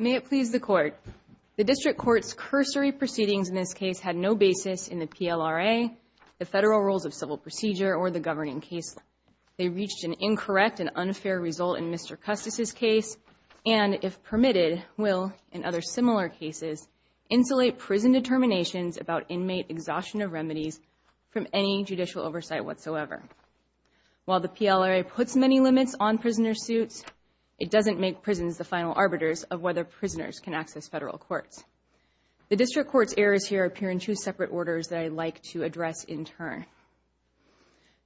May it please the Court, the District Court's cursory proceedings in this case had no basis in the PLRA, the Federal Rules of Civil Procedure, or the governing case law. They reached an incorrect and unfair result in Mr. Custis' case and, if permitted, will, in other similar cases, insulate prison determinations about inmate exhaustion of remedies from any judicial oversight whatsoever. While the PLRA puts many limits on prisoner suits, it doesn't make prisons the final arbiters of whether prisoners can access federal courts. The District Court's errors here appear in two separate orders that I'd like to address in turn.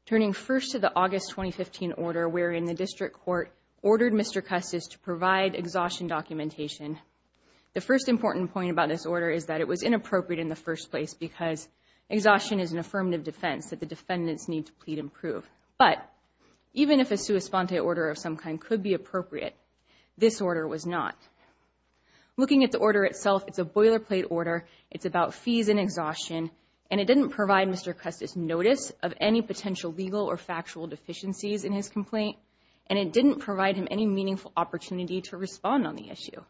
Turning first to the August 2015 order wherein the District Court ordered Mr. Custis to provide exhaustion documentation, the first important point about this order is that it was inappropriate in the first place because exhaustion is an affirmative defense that the defendants need to plead and prove. But even if a sua sponte order of some kind could be appropriate, this order was not. Looking at the order itself, it's a boilerplate order, it's about fees and exhaustion, and it didn't provide Mr. Custis notice of any potential legal or factual deficiencies in his complaint, and it didn't provide him any meaningful opportunity to respond on the issue.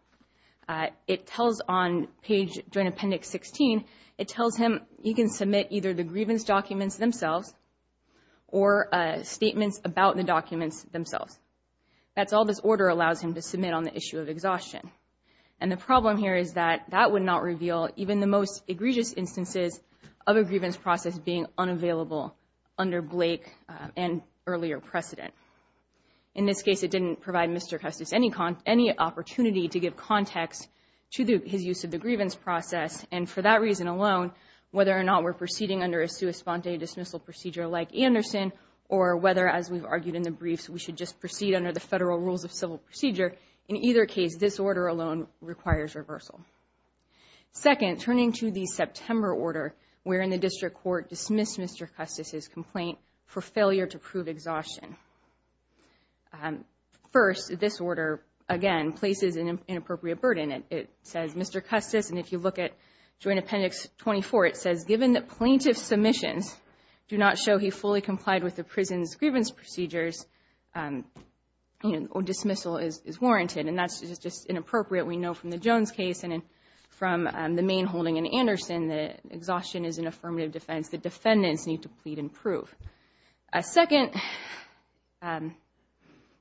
It tells on page joint appendix 16, it tells him he can submit either the grievance documents themselves or statements about the documents themselves. That's all this order allows him to submit on the issue of exhaustion. And the problem here is that that would not reveal even the most egregious instances of a grievance process being unavailable under Blake and earlier precedent. In this case, it didn't provide Mr. Custis any opportunity to give context to his use of the grievance process, and for that reason alone, whether or not we're proceeding under a sua sponte dismissal procedure like Anderson, or whether, as we've argued in the briefs, we should just proceed under the federal rules of civil procedure, in either case, this order alone requires reversal. Second, turning to the September order, wherein the district court dismissed Mr. Custis' complaint for failure to prove exhaustion. First, this order, again, places an inappropriate burden. It says Mr. Custis, and if you look at joint appendix 24, it says, given that plaintiff's submissions do not show he fully complied with the prison's grievance procedures, dismissal is warranted, and that's just inappropriate. We know from the Jones case and from the main holding in Anderson that exhaustion is an affirmative defense. The defendants need to plead and prove. A second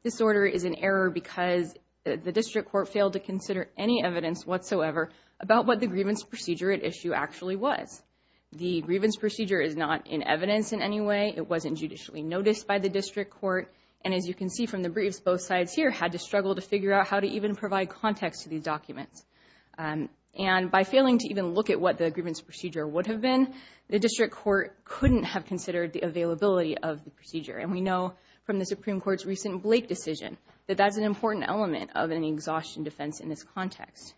disorder is an error because the district court failed to consider any evidence whatsoever about what the grievance procedure at issue actually was. The grievance procedure is not in evidence in any way. It wasn't judicially noticed by the district court, and as you can see from the briefs, both sides here had to struggle to figure out how to even provide context to these documents. And by failing to even look at what the grievance procedure would have been, the district court couldn't have considered the availability of the procedure. And we know from the Supreme Court's recent Blake decision that that's an important element of an exhaustion defense in this context.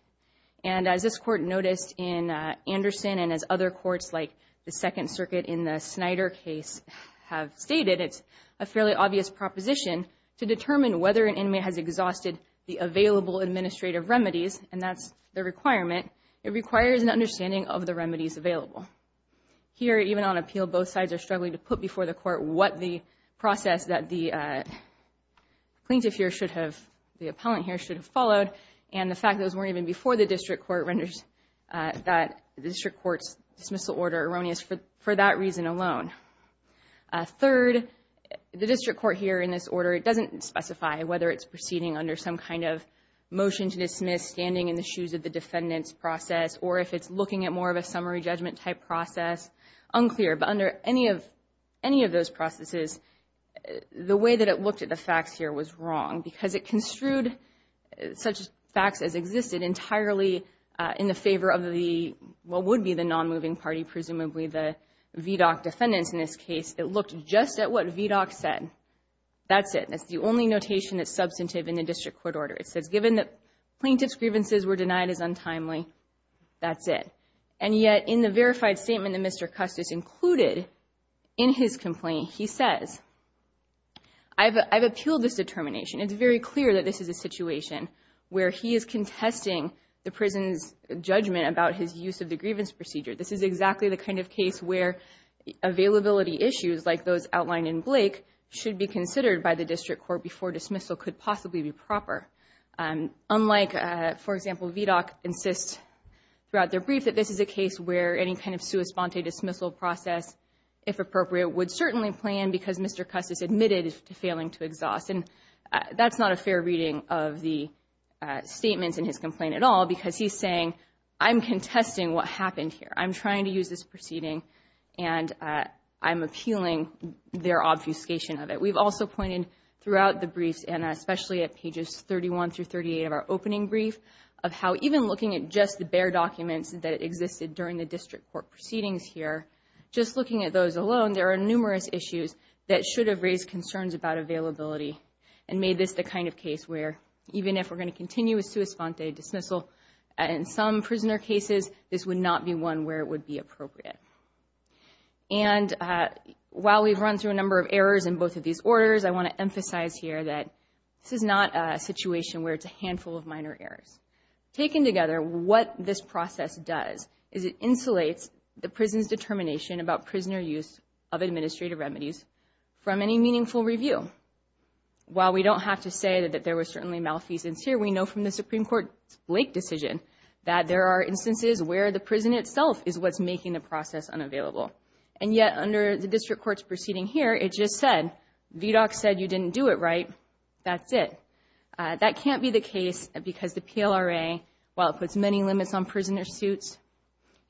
And as this court noticed in Anderson and as other courts, like the Second Circuit in the Snyder case, have stated, it's a fairly obvious proposition to determine whether an inmate has exhausted the available administrative remedies, and that's the requirement. It requires an understanding of the remedies available. Here even on appeal, both sides are struggling to put before the court what the process that the plaintiff here should have, the appellant here should have followed, and the fact that those weren't even before the district court renders that the district court's dismissal order erroneous for that reason alone. Third, the district court here in this order, it doesn't specify whether it's proceeding under some kind of motion to dismiss, standing in the shoes of the defendant's process, or if it's looking at more of a summary judgment type process. Unclear, but under any of those processes, the way that it looked at the facts here was wrong because it construed such facts as existed entirely in the favor of what would be the non-moving party, presumably the VDOC defendants in this case, that looked just at what VDOC said. That's it. That's the only notation that's substantive in the district court order. It says, given that plaintiff's grievances were denied as untimely, that's it. And yet in the verified statement that Mr. Custis included in his complaint, he says, I've appealed this determination. It's very clear that this is a situation where he is contesting the prison's judgment about his use of the grievance procedure. This is exactly the kind of case where availability issues like those outlined in Blake should be considered by the district court before dismissal could possibly be proper. Unlike, for example, VDOC insists throughout their brief that this is a case where any kind of sua sponte dismissal process, if appropriate, would certainly plan because Mr. Custis admitted to failing to exhaust. And that's not a fair reading of the statements in his complaint at all because he's saying, I'm contesting what happened here. I'm trying to use this proceeding and I'm appealing their obfuscation of it. We've also pointed throughout the briefs and especially at pages 31 through 38 of our opening brief of how even looking at just the bare documents that existed during the district court proceedings here, just looking at those alone, there are numerous issues that should have raised concerns about availability and made this the kind of case where even if we're looking at some prisoner cases, this would not be one where it would be appropriate. And while we've run through a number of errors in both of these orders, I want to emphasize here that this is not a situation where it's a handful of minor errors. Taken together, what this process does is it insulates the prison's determination about prisoner use of administrative remedies from any meaningful review. While we don't have to say that there was certainly malfeasance here, we know from the There are instances where the prison itself is what's making the process unavailable. And yet under the district court's proceeding here, it just said, VDOC said you didn't do it right, that's it. That can't be the case because the PLRA, while it puts many limits on prisoner suits,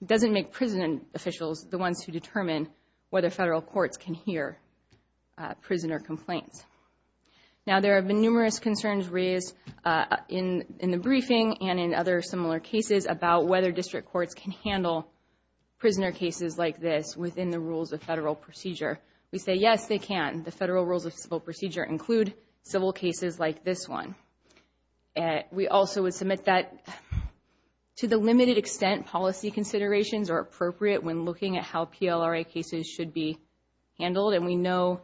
doesn't make prison officials the ones who determine whether federal courts can hear prisoner complaints. Now there have been numerous concerns raised in the briefing and in other similar cases about whether district courts can handle prisoner cases like this within the rules of federal procedure. We say yes, they can. The federal rules of civil procedure include civil cases like this one. We also would submit that to the limited extent policy considerations are appropriate when looking at how PLRA cases should be handled, and we know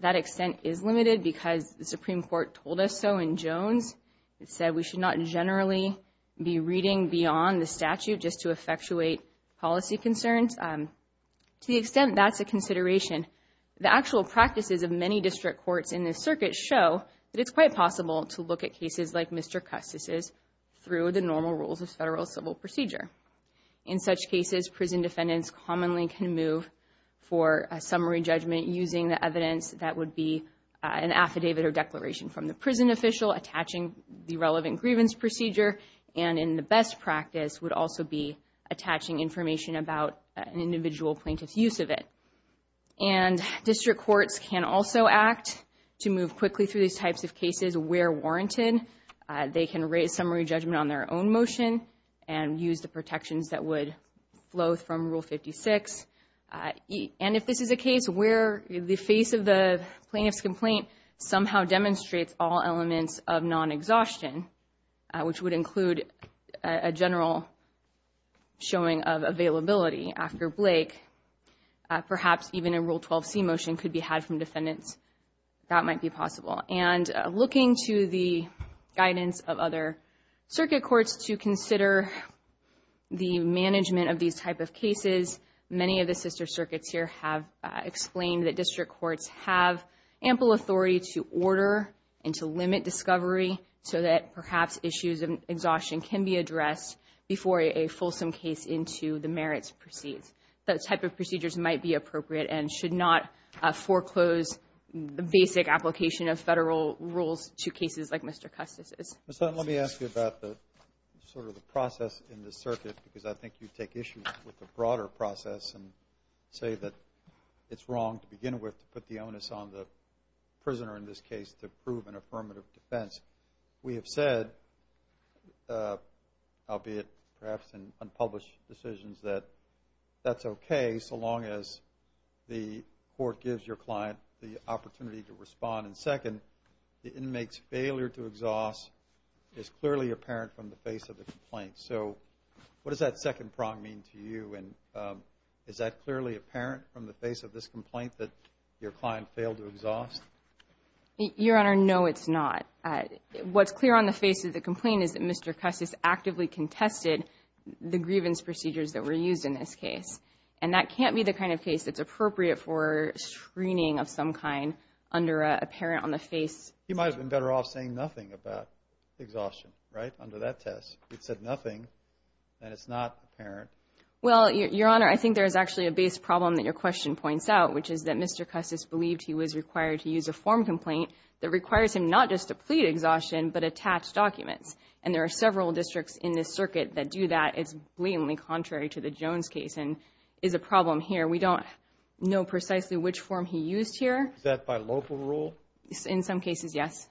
that extent is limited because the Supreme Court told us so in Jones. It said we should not generally be reading beyond the statute just to effectuate policy concerns. To the extent that's a consideration, the actual practices of many district courts in this circuit show that it's quite possible to look at cases like Mr. Custis' through the normal rules of federal civil procedure. In such cases, prison defendants commonly can move for a summary judgment using the federal declaration from the prison official, attaching the relevant grievance procedure, and in the best practice would also be attaching information about an individual plaintiff's use of it. And district courts can also act to move quickly through these types of cases where warranted. They can raise summary judgment on their own motion and use the protections that would flow from Rule 56. And if this is a case where the face of the plaintiff's complaint somehow demonstrates all elements of non-exhaustion, which would include a general showing of availability after Blake, perhaps even a Rule 12c motion could be had from defendants. That might be possible. And looking to the guidance of other circuit courts to consider the management of these type of cases, many of the sister circuits here have explained that district courts have ample authority to order and to limit discovery so that perhaps issues of exhaustion can be addressed before a fulsome case into the merits proceeds. Those type of procedures might be appropriate and should not foreclose the basic application of federal rules to cases like Mr. Custis' Mr. Hunt, let me ask you about the process in this circuit because I think you take issue with the broader process and say that it's wrong to begin with to put the onus on the prisoner in this case to prove an affirmative defense. We have said, albeit perhaps in unpublished decisions, that that's okay so long as the court gives your client the opportunity to respond. And second, the inmate's failure to exhaust is clearly apparent from the face of the complaint. So what does that second prong mean to you and is that clearly apparent from the face of this complaint that your client failed to exhaust? Your Honor, no, it's not. What's clear on the face of the complaint is that Mr. Custis actively contested the grievance procedures that were used in this case. And that can't be the kind of case that's appropriate for screening of some kind under a parent on the face. He might have been better off saying nothing about exhaustion, right, under that test. He said nothing and it's not apparent. Well, Your Honor, I think there's actually a base problem that your question points out, which is that Mr. Custis believed he was required to use a form complaint that requires him not just to plead exhaustion but attach documents. And there are several districts in this circuit that do that. It's blatantly contrary to the Jones case and is a problem here. We don't know precisely which form he used here. Is that by local rule? In some cases, yes.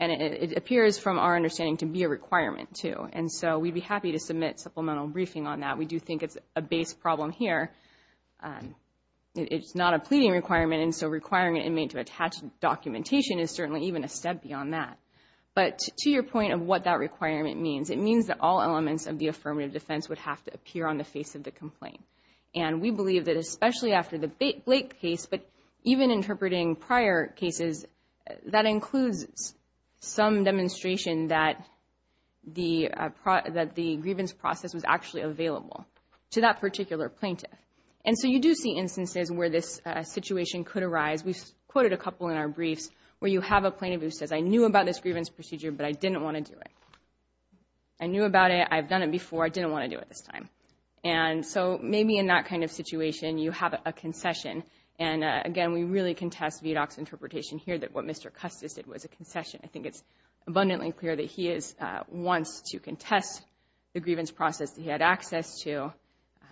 And it appears from our understanding to be a requirement too. And so we'd be happy to submit supplemental briefing on that. We do think it's a base problem here. It's not a pleading requirement and so requiring an inmate to attach documentation is certainly even a step beyond that. But to your point of what that requirement means, it means that all elements of the affirmative defense would have to appear on the face of the complaint. And we believe that especially after the Blake case, but even interpreting prior cases, that includes some demonstration that the grievance process was actually available to that particular plaintiff. And so you do see instances where this situation could arise. We quoted a couple in our briefs where you have a plaintiff who says, I knew about this grievance procedure, but I didn't want to do it. I knew about it. I've done it before. I didn't want to do it this time. And so maybe in that kind of situation, you have a concession. And again, we really contest VDOC's interpretation here that what Mr. Custis did was a concession. I think it's abundantly clear that he wants to contest the grievance process that he had access to.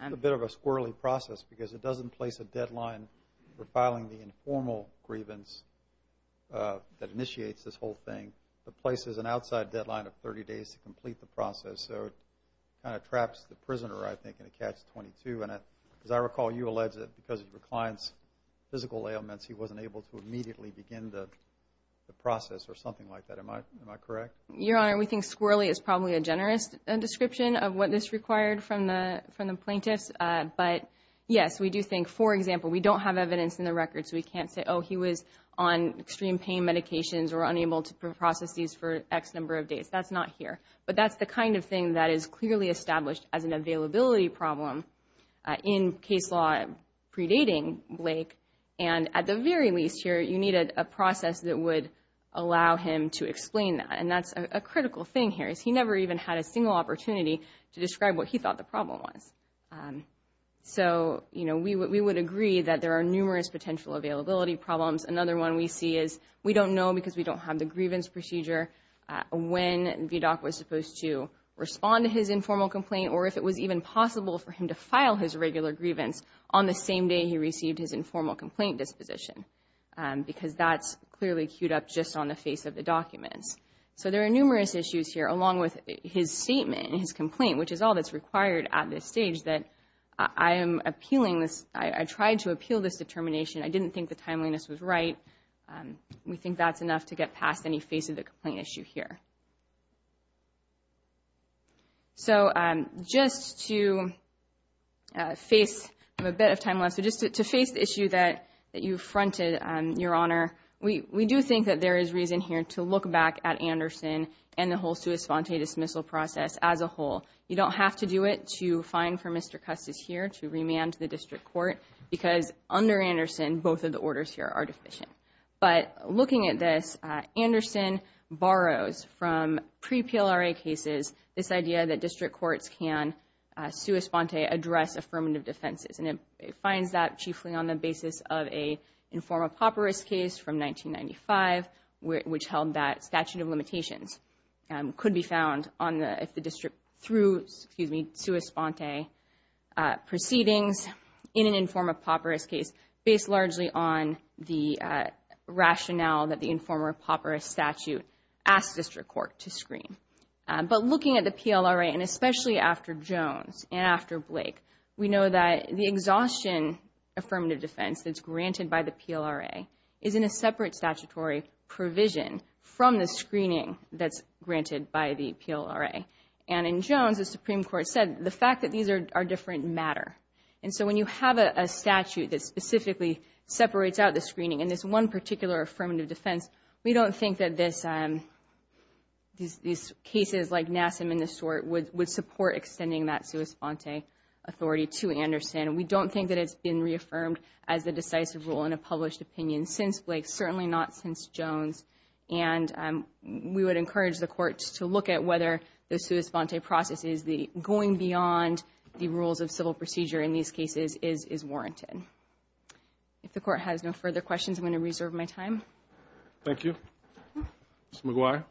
It's a bit of a squirrelly process because it doesn't place a deadline for filing the The place is an outside deadline of 30 days to complete the process. So it kind of traps the prisoner, I think, in a catch-22. And as I recall, you alleged that because of your client's physical ailments, he wasn't able to immediately begin the process or something like that. Am I correct? Your Honor, we think squirrelly is probably a generous description of what this required from the plaintiffs. But yes, we do think, for example, we don't have evidence in the records. We can't say, oh, he was on extreme pain medications or unable to process these for X number of days. That's not here. But that's the kind of thing that is clearly established as an availability problem in case law predating Blake. And at the very least here, you needed a process that would allow him to explain that. And that's a critical thing here, is he never even had a single opportunity to describe what he thought the problem was. So, you know, we would agree that there are numerous potential availability problems. Another one we see is we don't know, because we don't have the grievance procedure, when VDOC was supposed to respond to his informal complaint or if it was even possible for him to file his regular grievance on the same day he received his informal complaint disposition. Because that's clearly queued up just on the face of the documents. So there are numerous issues here, along with his statement and his complaint, which is all that's required at this stage, that I am appealing this, I tried to appeal this determination. I didn't think the timeliness was right. We think that's enough to get past any face of the complaint issue here. So just to face, I have a bit of time left, so just to face the issue that you fronted, Your Honor, we do think that there is reason here to look back at Anderson and the whole sui sponte dismissal process as a whole. You don't have to do it to fine for Mr. Custis here, to remand the district court, because under Anderson, both of the orders here are deficient. But looking at this, Anderson borrows from pre-PLRA cases this idea that district courts can sui sponte address affirmative defenses, and it finds that chiefly on the basis of a informal pauperous case from 1995, which held that statute of limitations could be through, excuse me, sui sponte proceedings in an informal pauperous case based largely on the rationale that the informal pauperous statute asked district court to screen. But looking at the PLRA, and especially after Jones and after Blake, we know that the exhaustion affirmative defense that's granted by the PLRA is in a separate statutory provision from the screening that's granted by the PLRA. And in Jones, the Supreme Court said the fact that these are different matter. And so when you have a statute that specifically separates out the screening in this one particular affirmative defense, we don't think that these cases like Nassim and the sort would support extending that sui sponte authority to Anderson. We don't think that it's been reaffirmed as a decisive rule in a published opinion since Blake, certainly not since Jones. And we would encourage the courts to look at whether the sui sponte process is going beyond the rules of civil procedure in these cases is warranted. If the court has no further questions, I'm going to reserve my time. Thank you. Mr. McGuire.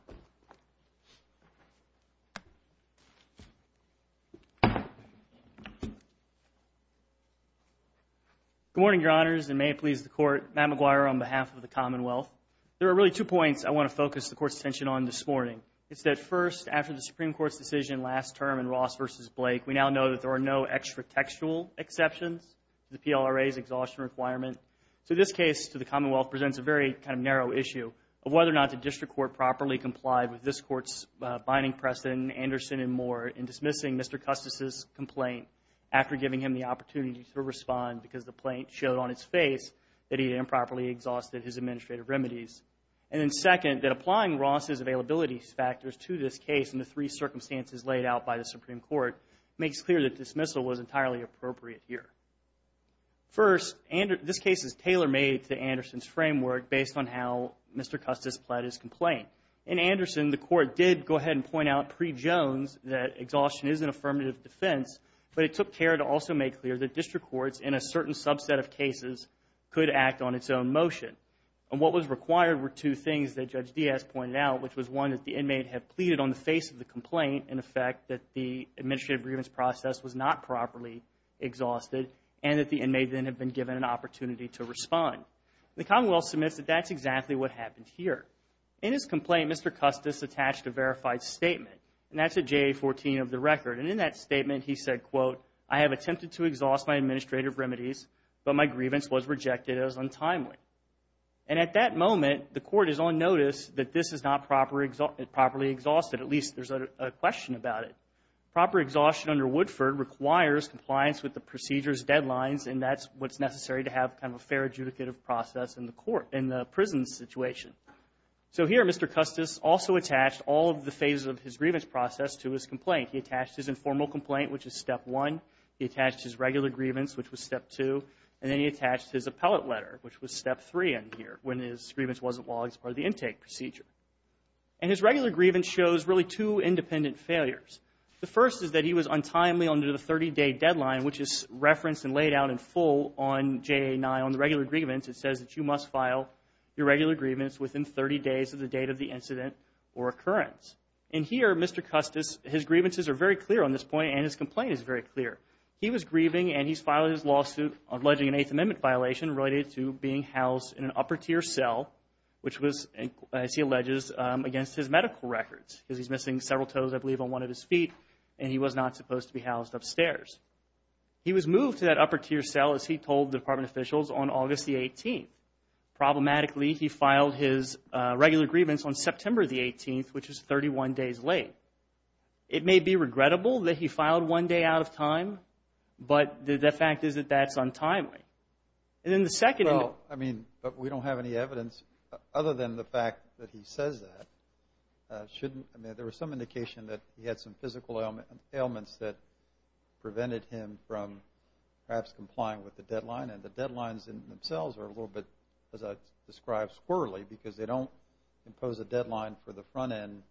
Good morning, Your Honors, and may it please the court, Matt McGuire on behalf of the Commonwealth. There are really two points I want to focus the court's attention on this morning. It's that first, after the Supreme Court's decision last term in Ross v. Blake, we now know that there are no extra textual exceptions to the PLRA's exhaustion requirement. So this case to the Commonwealth presents a very kind of narrow issue of whether or not the district court properly complied with this court's binding precedent in Anderson and Moore in dismissing Mr. Custis' complaint after giving him the opportunity to respond because the plaint showed on its face that he had improperly exhausted his administrative remedies. And then second, that applying Ross' availability factors to this case and the three circumstances laid out by the Supreme Court makes clear that dismissal was entirely appropriate here. First, this case is tailor-made to Anderson's framework based on how Mr. Custis pled his complaint. In Anderson, the court did go ahead and point out pre-Jones that exhaustion is an affirmative defense, but it took care to also make clear that district courts in a certain subset of cases could act on its own motion. And what was required were two things that Judge Diaz pointed out, which was one, that the inmate had pleaded on the face of the complaint, in effect, that the administrative grievance process was not properly exhausted and that the inmate then had been given an opportunity to respond. The Commonwealth submits that that's exactly what happened here. In his complaint, Mr. Custis attached a verified statement, and that's a JA-14 of the record. And in that statement, he said, quote, I have attempted to exhaust my administrative remedies, but my grievance was rejected as untimely. And at that moment, the court is on notice that this is not properly exhausted, at least there's a question about it. Proper exhaustion under Woodford requires compliance with the procedure's deadlines, and that's what's necessary to have kind of a fair adjudicative process in the court, in the prison situation. So here, Mr. Custis also attached all of the phases of his grievance process to his complaint. He attached his informal complaint, which is step one, he attached his regular grievance, which was step two, and then he attached his appellate letter, which was step three in here, when his grievance wasn't logged as part of the intake procedure. And his regular grievance shows really two independent failures. The first is that he was untimely under the 30-day deadline, which is referenced and laid out in full on JA-9, on the regular grievance, it says that you must file your regular grievance within 30 days of the date of the incident or occurrence. In here, Mr. Custis, his grievances are very clear on this point, and his complaint is very clear. He was grieving, and he's filed his lawsuit alleging an Eighth Amendment violation related to being housed in an upper-tier cell, which was, as he alleges, against his medical records, because he's missing several toes, I believe, on one of his feet, and he was not supposed to be housed upstairs. He was moved to that upper-tier cell, as he told the department officials, on August the 18th. Problematically, he filed his regular grievance on September the 18th, which is 31 days late. It may be regrettable that he filed one day out of time, but the fact is that that's untimely. And then the second... Well, I mean, but we don't have any evidence, other than the fact that he says that, shouldn't... I mean, there was some indication that he had some physical ailments that prevented him from perhaps complying with the deadline, and the deadlines themselves are a little bit, as I've described, squirrely, because they don't impose a deadline for the front-end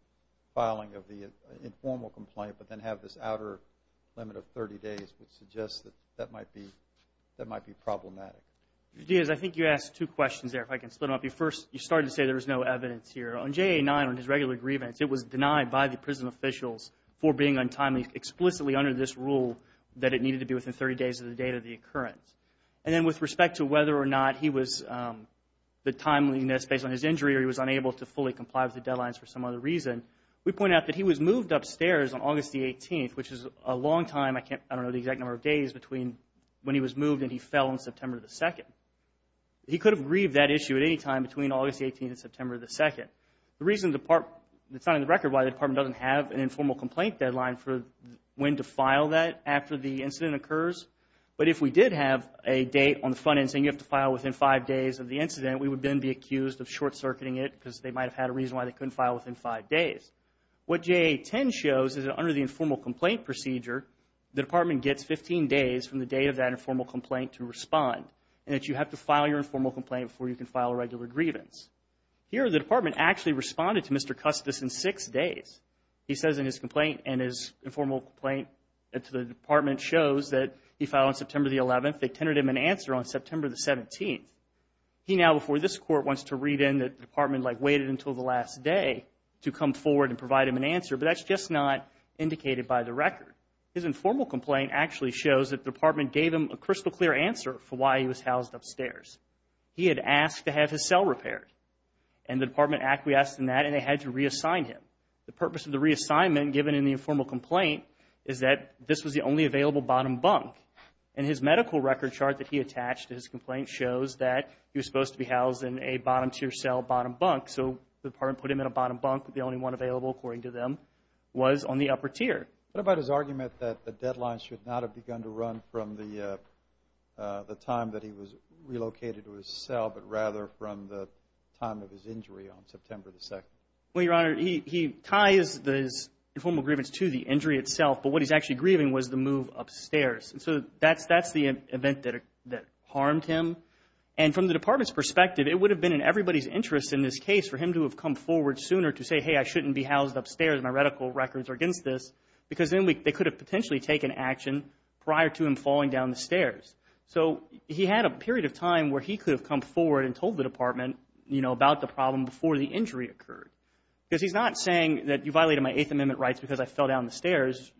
filing of the informal complaint, but then have this outer limit of 30 days, which suggests that that might be problematic. Judge Diaz, I think you asked two questions there, if I can split them up. First, you started to say there was no evidence here. On JA-9, on his regular grievance, it was denied by the prison officials for being untimely explicitly under this rule that it needed to be within 30 days of the date of the occurrence. And then with respect to whether or not he was... The timeliness based on his injury, or he was unable to fully comply with the deadlines for some other reason, we pointed out that he was moved upstairs on August the 18th, which is a long time. I can't... I don't know the exact number of days between when he was moved and he fell on September the 2nd. He could have grieved that issue at any time between August the 18th and September the 2nd. The reason the part... It's not on the record why the department doesn't have an informal complaint deadline for when to file that after the incident occurs. But if we did have a date on the front end saying you have to file within five days of the incident, we would then be accused of short-circuiting it because they might have had a reason why they couldn't file within five days. What JA-10 shows is that under the informal complaint procedure, the department gets 15 days from the date of that informal complaint to respond, and that you have to file your informal complaint before you can file a regular grievance. Here the department actually responded to Mr. Custis in six days. He says in his complaint and his informal complaint to the department shows that he filed on September the 11th, they tendered him an answer on September the 17th. He now before this court wants to read in that the department like waited until the last day to come forward and provide him an answer, but that's just not indicated by the record. His informal complaint actually shows that the department gave him a crystal clear answer for why he was housed upstairs. He had asked to have his cell repaired, and the department acquiesced in that and they had to reassign him. The purpose of the reassignment given in the informal complaint is that this was the only available bottom bunk, and his medical record chart that he attached to his complaint shows that he was supposed to be housed in a bottom tier cell, bottom bunk. So the department put him in a bottom bunk, the only one available according to them was on the upper tier. What about his argument that the deadline should not have begun to run from the time that he was relocated to his cell, but rather from the time of his injury on September the 2nd? Well, Your Honor, he ties his informal grievance to the injury itself, but what he's actually grieving was the move upstairs, and so that's the event that harmed him. And from the department's perspective, it would have been in everybody's interest in this case for him to have come forward sooner to say, hey, I shouldn't be housed upstairs, my medical records are against this, because then they could have potentially taken action prior to him falling down the stairs. So he had a period of time where he could have come forward and told the department, you know, about the problem before the injury occurred. Because he's not saying that you violated my Eighth Amendment rights because I fell down the stairs,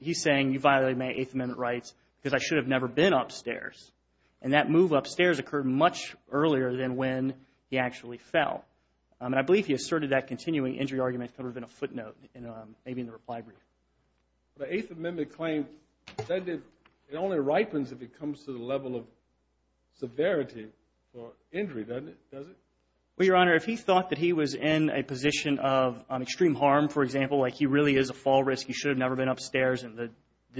he's saying you violated my Eighth Amendment rights because I should have never been upstairs. And that move upstairs occurred much earlier than when he actually fell. And I believe he asserted that continuing injury argument could have been a footnote maybe in the reply brief. The Eighth Amendment claim, it only ripens if it comes to the level of severity for injury, doesn't it? Well, Your Honor, if he thought that he was in a position of extreme harm, for example, like he really is a fall risk, he should have never been upstairs, and the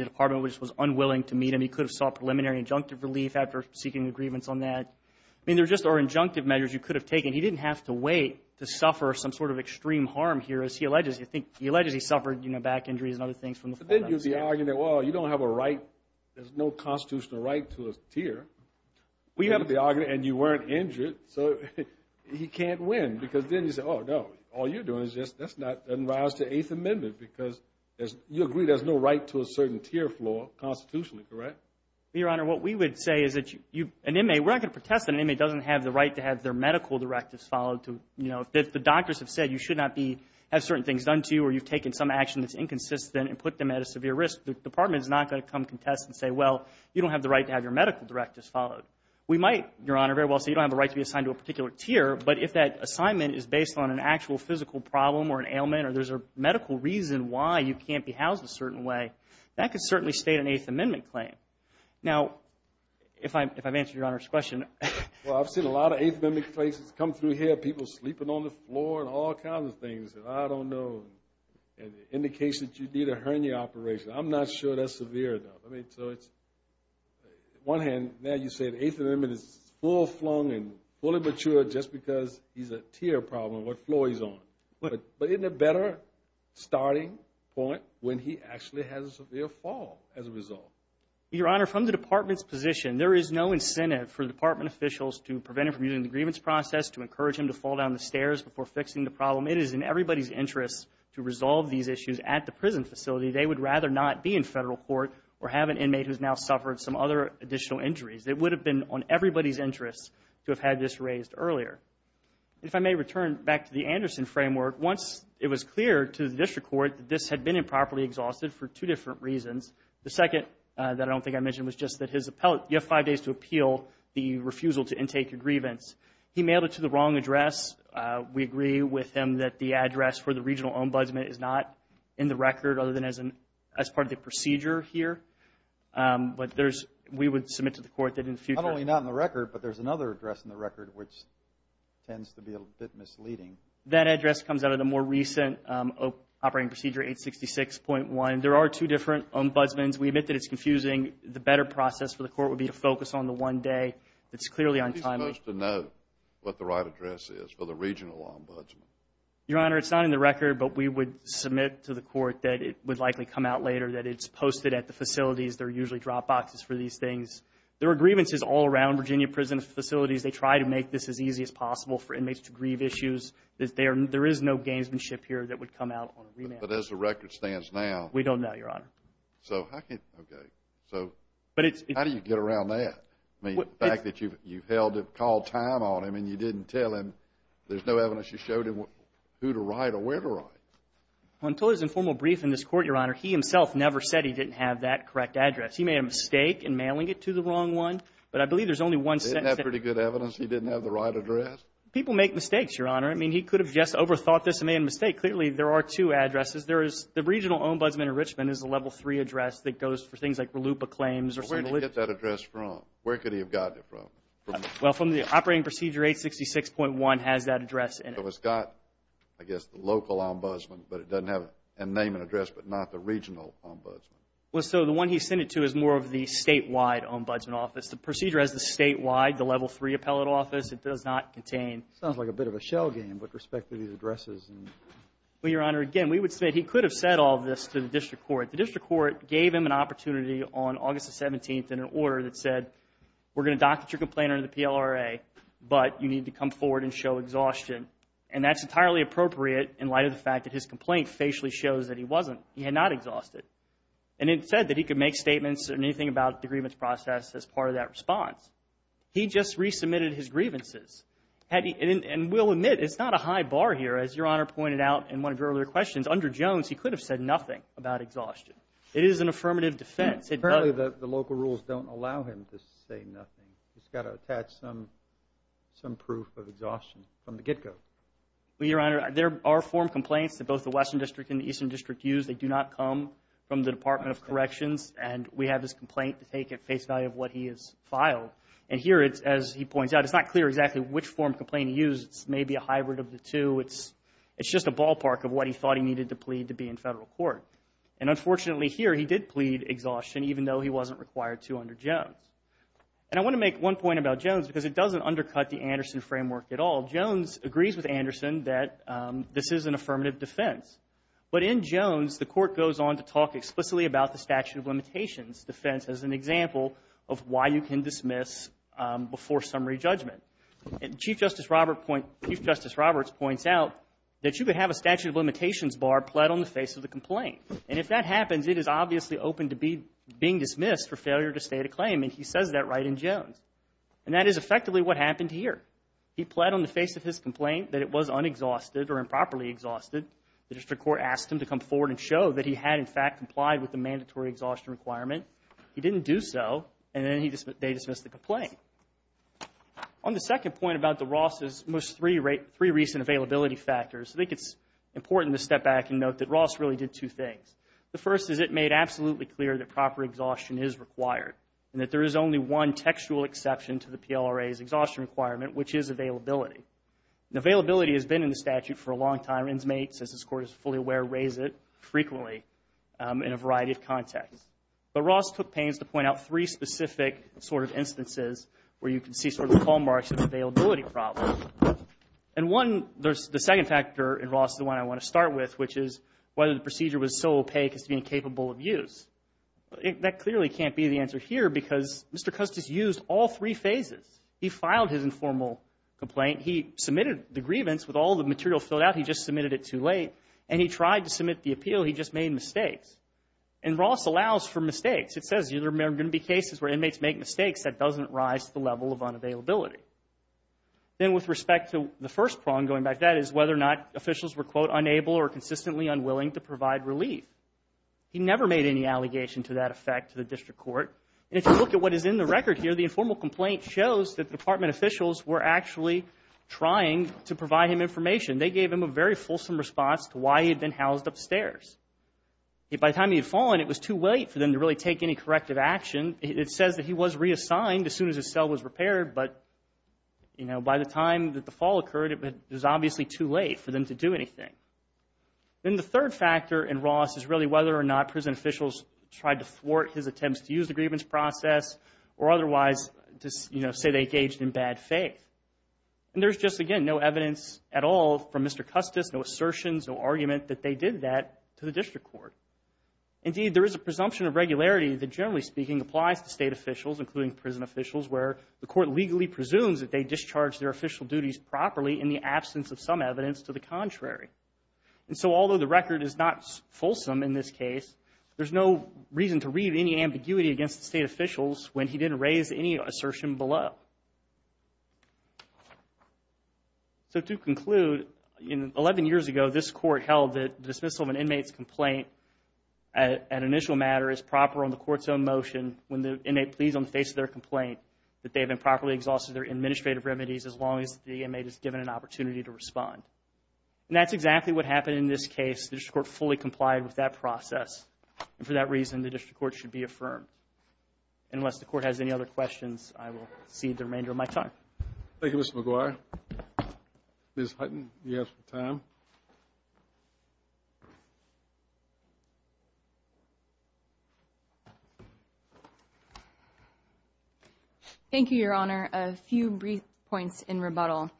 department was unwilling to meet him, he could have sought preliminary injunctive relief after seeking a grievance on that. I mean, there are just injunctive measures you could have taken. He didn't have to wait to suffer some sort of extreme harm here as he allegedly suffered, you know, back injuries and other things from the fall down the stairs. But then you'd be arguing that, well, you don't have a right, there's no constitutional right to a tier. We have the argument, and you weren't injured, so he can't win, because then you say, oh, no, all you're doing is just, that's not, that doesn't rise to the Eighth Amendment, because you agree there's no right to a certain tier floor constitutionally, correct? Your Honor, what we would say is that an inmate, we're not going to protest that an inmate doesn't have the right to have their medical directives followed to, you know, if the doctors have said you should not be, have certain things done to you or you've taken some action that's inconsistent and put them at a severe risk, the department is not going to come and contest and say, well, you don't have the right to have your medical directives followed. We might, Your Honor, very well say you don't have the right to be assigned to a particular tier, but if that assignment is based on an actual physical problem or an ailment or there's a medical reason why you can't be housed a certain way, that could certainly state an Eighth Amendment claim. Now, if I've answered Your Honor's question. Well, I've seen a lot of Eighth Amendment cases come through here, people sleeping on the floor and all kinds of things that I don't know, and indications you need a hernia operation. I'm not sure that's severe enough. I mean, so it's, on one hand, now you said Eighth Amendment is full flung and fully mature just because he's a tier problem on what floor he's on, but isn't it a better starting point when he actually has a severe fall as a result? Your Honor, from the department's position, there is no incentive for department officials to prevent him from using the grievance process, to encourage him to fall down the stairs before fixing the problem. It is in everybody's interest to resolve these issues at the prison facility. They would rather not be in federal court or have an inmate who's now suffered some other additional injuries. It would have been on everybody's interest to have had this raised earlier. If I may return back to the Anderson framework, once it was clear to the district court that this had been improperly exhausted for two different reasons, the second that I don't think I mentioned was just that his appellate, you have five days to appeal the refusal to intake your grievance. He mailed it to the wrong address. We agree with him that the address for the regional ombudsman is not in the record other than as part of the procedure here, but we would submit to the court that in the future Not only not in the record, but there's another address in the record which tends to be a bit misleading. That address comes out of the more recent Operating Procedure 866.1. There are two different ombudsmans. We admit that it's confusing. The better process for the court would be to focus on the one day that's clearly untimely. He's supposed to know what the right address is for the regional ombudsman. Your Honor, it's not in the record, but we would submit to the court that it would likely come out later, that it's posted at the facilities. There are usually drop boxes for these things. There are grievances all around Virginia prison facilities. They try to make this as easy as possible for inmates to grieve issues. There is no gamesmanship here that would come out on a remand. But as the record stands now We don't know, Your Honor. So how do you get around that? I mean, the fact that you called time on him and you didn't tell him, there's no evidence you showed him who to write or where to write. Until his informal brief in this court, Your Honor, he himself never said he didn't have that correct address. He made a mistake in mailing it to the wrong one, but I believe there's only one sentence Didn't have pretty good evidence he didn't have the right address? People make mistakes, Your Honor. I mean, he could have just overthought this and made a mistake. Clearly, there are two addresses. There is the regional ombudsman in Richmond is a level three address that goes for things like RLUIPA claims or some of the Where did he get that address from? Where could he have gotten it from? Well, from the operating procedure 866.1 has that address in it. So it's got, I guess, the local ombudsman, but it doesn't have a name and address, but not the regional ombudsman. Well, so the one he sent it to is more of the statewide ombudsman office. The procedure has the statewide, the level three appellate office. It does not contain Sounds like a bit of a shell game with respect to these addresses. Well, Your Honor, again, we would say he could have said all this to the district court. The district court gave him an opportunity on August the 17th in an order that said, we're going to dock at your complainer in the PLRA, but you need to come forward and show exhaustion. And that's entirely appropriate in light of the fact that his complaint facially shows that he wasn't, he had not exhausted. And it said that he could make statements or anything about the grievance process as part of that response. He just resubmitted his grievances. And we'll admit it's not a high bar here. As Your Honor pointed out in one of your earlier questions, under Jones, he could have said nothing about exhaustion. It is an affirmative defense. Apparently the local rules don't allow him to say nothing. He's got to attach some proof of exhaustion from the get go. Well, Your Honor, there are form complaints that both the Western District and the Eastern District use. They do not come from the Department of Corrections. And we have this complaint to take at face value of what he has filed. And here it's, as he points out, it's not clear exactly which form complaint he used. It's maybe a hybrid of the two. It's just a ballpark of what he thought he needed to plead to be in federal court. And unfortunately here, he did plead exhaustion even though he wasn't required to under Jones. And I want to make one point about Jones because it doesn't undercut the Anderson framework at all. Jones agrees with Anderson that this is an affirmative defense. But in Jones, the court goes on to talk explicitly about the statute of limitations defense as an example of why you can dismiss before summary judgment. Chief Justice Roberts points out that you could have a statute of limitations bar pled on the face of the complaint. And if that happens, it is obviously open to being dismissed for failure to state a claim. And he says that right in Jones. And that is effectively what happened here. He pled on the face of his complaint that it was unexhausted or improperly exhausted. The district court asked him to come forward and show that he had, in fact, complied with the mandatory exhaustion requirement. He didn't do so. And then they dismissed the complaint. On the second point about DeRoss' most three recent availability factors, I think it's important to step back and note that Ross really did two things. The first is it made absolutely clear that proper exhaustion is required and that there is only one textual exception to the PLRA's exhaustion requirement, which is availability. Availability has been in the statute for a long time. And inmates, as this Court is fully aware, raise it frequently in a variety of contexts. But Ross took pains to point out three specific sort of instances where you can see sort of the hallmarks of the availability problem. And one, the second factor in Ross is the one I want to start with, which is whether the procedure was so opaque as to be incapable of use. That clearly can't be the answer here because Mr. Custis used all three phases. He filed his informal complaint. He submitted the grievance with all the material filled out. He just submitted it too late. And he tried to submit the appeal. He just made mistakes. And Ross allows for mistakes. It says there are going to be cases where inmates make mistakes that doesn't rise to the level of unavailability. Then with respect to the first prong going back, that is whether or not officials were quote, unable or consistently unwilling to provide relief. He never made any allegation to that effect to the District Court. And if you look at what is in the record here, the informal complaint shows that the Department officials were actually trying to provide him information. They gave him a very fulsome response to why he had been housed upstairs. By the time he had fallen, it was too late for them to really take any corrective action. It says that he was reassigned as soon as his cell was repaired. But you know, by the time that the fall occurred, it was obviously too late for them to do anything. Then the third factor in Ross is really whether or not prison officials tried to thwart his attempts to use the grievance process or otherwise, you know, say they engaged in bad faith. And there's just again no evidence at all from Mr. Custis, no assertions, no argument that they did that to the District Court. Indeed, there is a presumption of regularity that generally speaking applies to state officials, including prison officials, where the court legally presumes that they discharged their official duties properly in the absence of some evidence to the contrary. And so although the record is not fulsome in this case, there's no reason to read any ambiguity against the state officials when he didn't raise any assertion below. So to conclude, 11 years ago, this court held that dismissal of an inmate's complaint at initial matter is proper on the court's own motion when the inmate pleads on the face of their complaint that they have improperly exhausted their administrative remedies as long as the inmate is given an opportunity to respond. And that's exactly what happened in this case. The District Court fully complied with that process. And for that reason, the District Court should be affirmed. Unless the court has any other questions, I will cede the remainder of my time. Thank you, Mr. McGuire. Ms. Hutton, you have some time. Thank you, Your Honor. A few brief points in rebuttal.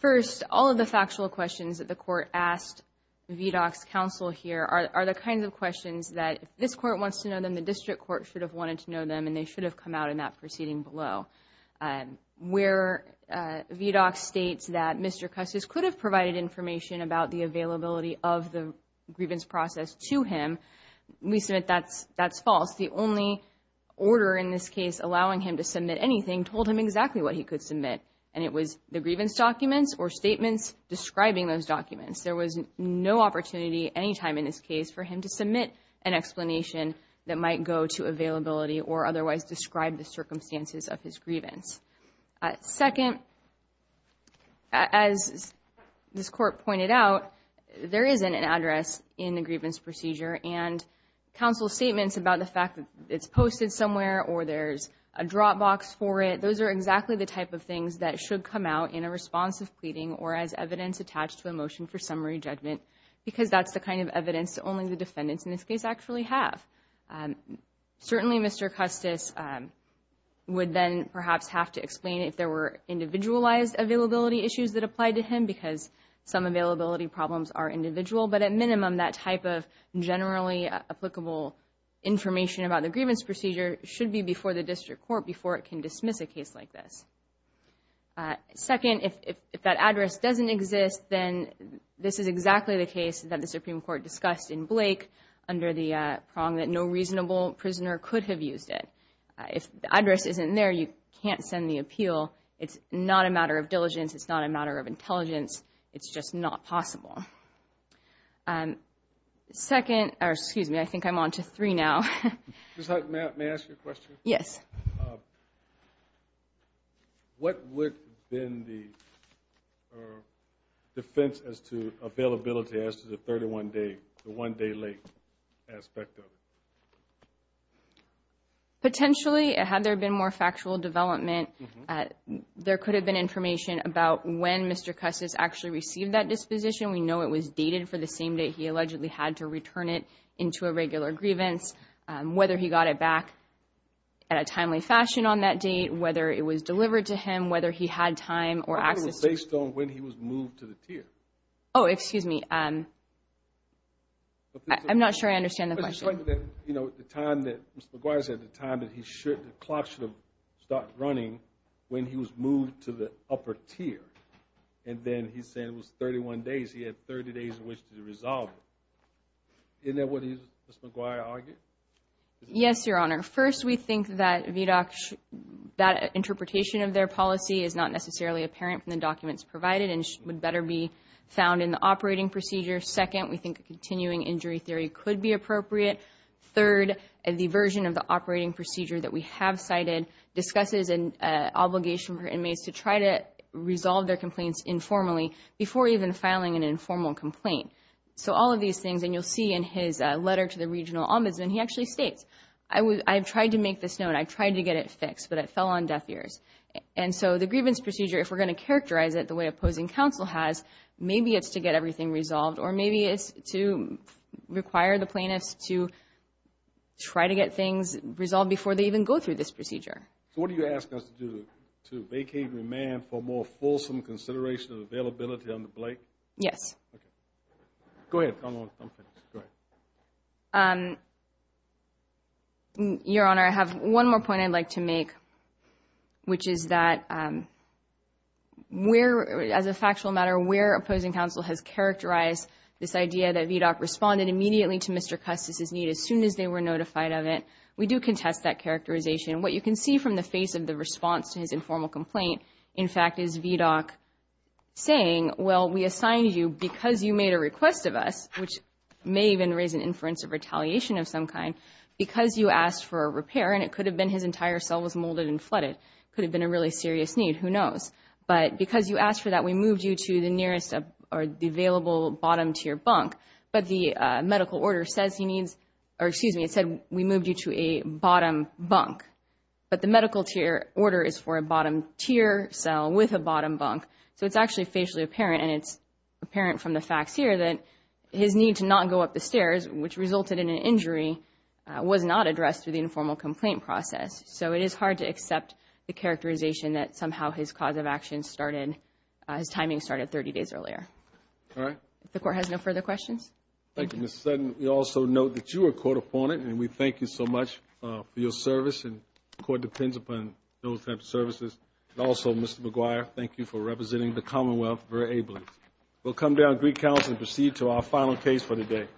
First, all of the factual questions that the court asked VDOC's counsel here are the kinds of questions that if this court wants to know, then the District Court should have wanted to know them, and they should have come out in that proceeding below. Where VDOC states that Mr. Custis could have provided information about the availability of the grievance process to him, we submit that's false. The only order in this case allowing him to submit anything told him exactly what he could submit, and it was the grievance documents or statements describing those documents. There was no opportunity any time in this case for him to submit an explanation that might go to availability or otherwise describe the circumstances of his grievance. Second, as this court pointed out, there isn't an address in the grievance procedure. And counsel's statements about the fact that it's posted somewhere or there's a drop box for it, those are exactly the type of things that should come out in a response of pleading or as evidence attached to a motion for summary judgment, because that's the kind of evidence only the defendants in this case actually have. Certainly Mr. Custis would then perhaps have to explain if there were individualized availability issues that applied to him, because some availability problems are individual, but at minimum that type of generally applicable information about the grievance procedure should be before the District Court before it can dismiss a case like this. Second, if that address doesn't exist, then this is exactly the case that the Supreme Court discussed in Blake under the prong that no reasonable prisoner could have used it. If the address isn't there, you can't send the appeal. It's not a matter of diligence. It's not a matter of intelligence. It's just not possible. Second, or excuse me, I think I'm on to three now. Just may I ask you a question? Yes. What would have been the defense as to availability as to the 31-day, the one-day-late aspect of it? Potentially, had there been more factual development, there could have been information about when Mr. Custis actually received that disposition. We know it was dated for the same day he allegedly had to return it into a regular grievance, whether he got it back at a timely fashion on that date, whether it was delivered to him, whether he had time or access to it. I think it was based on when he was moved to the tier. Oh, excuse me. I'm not sure I understand the question. But it's like, you know, the time that Mr. McGuire said, the time that he should, the clock should have stopped running when he was moved to the upper tier. And then he's saying it was 31 days. He had 30 days in which to resolve it. Isn't that what he, Mr. McGuire, argued? Yes, Your Honor. First, we think that VDOC, that interpretation of their policy is not necessarily apparent from the documents provided and would better be found in the operating procedure. Second, we think a continuing injury theory could be appropriate. Third, the version of the operating procedure that we have cited discusses an obligation for inmates to try to resolve their complaints informally before even filing an informal complaint. So, all of these things. And you'll see in his letter to the regional ombudsman, he actually states, I've tried to make this known. I've tried to get it fixed, but it fell on deaf ears. And so, the grievance procedure, if we're going to characterize it the way opposing counsel has, maybe it's to get everything resolved or maybe it's to require the plaintiffs to try to get things resolved before they even go through this procedure. So, what are you asking us to do? To vacate remand for more fulsome consideration of availability under Blake? Yes. Okay. Go ahead. Go ahead. Your Honor, I have one more point I'd like to make, which is that we're, as a factual matter, we're opposing counsel has characterized this idea that VDOC responded immediately to Mr. Custis' need as soon as they were notified of it. We do contest that characterization. What you can see from the face of the response to his informal complaint, in fact, is VDOC saying, well, we assigned you, because you made a request of us, which may even raise an inference of retaliation of some kind, because you asked for a repair, and it could have been his entire cell was molded and flooded, could have been a really serious need, who knows. But because you asked for that, we moved you to the nearest or the available bottom-tier bunk. But the medical order says he needs, or excuse me, it said we moved you to a bottom bunk. But the medical order is for a bottom-tier cell with a bottom bunk. So it's actually facially apparent, and it's apparent from the facts here that his need to not go up the stairs, which resulted in an injury, was not addressed through the informal complaint process. So it is hard to accept the characterization that somehow his cause of action started, his timing started 30 days earlier. All right. If the Court has no further questions. Thank you. Thank you, Ms. Sutton. We also note that you are a court opponent, and we thank you so much for your service. And the Court depends upon those types of services. And also, Mr. McGuire, thank you for representing the Commonwealth very ably. We'll come down to Greek Council and proceed to our final case for the day. Thank you.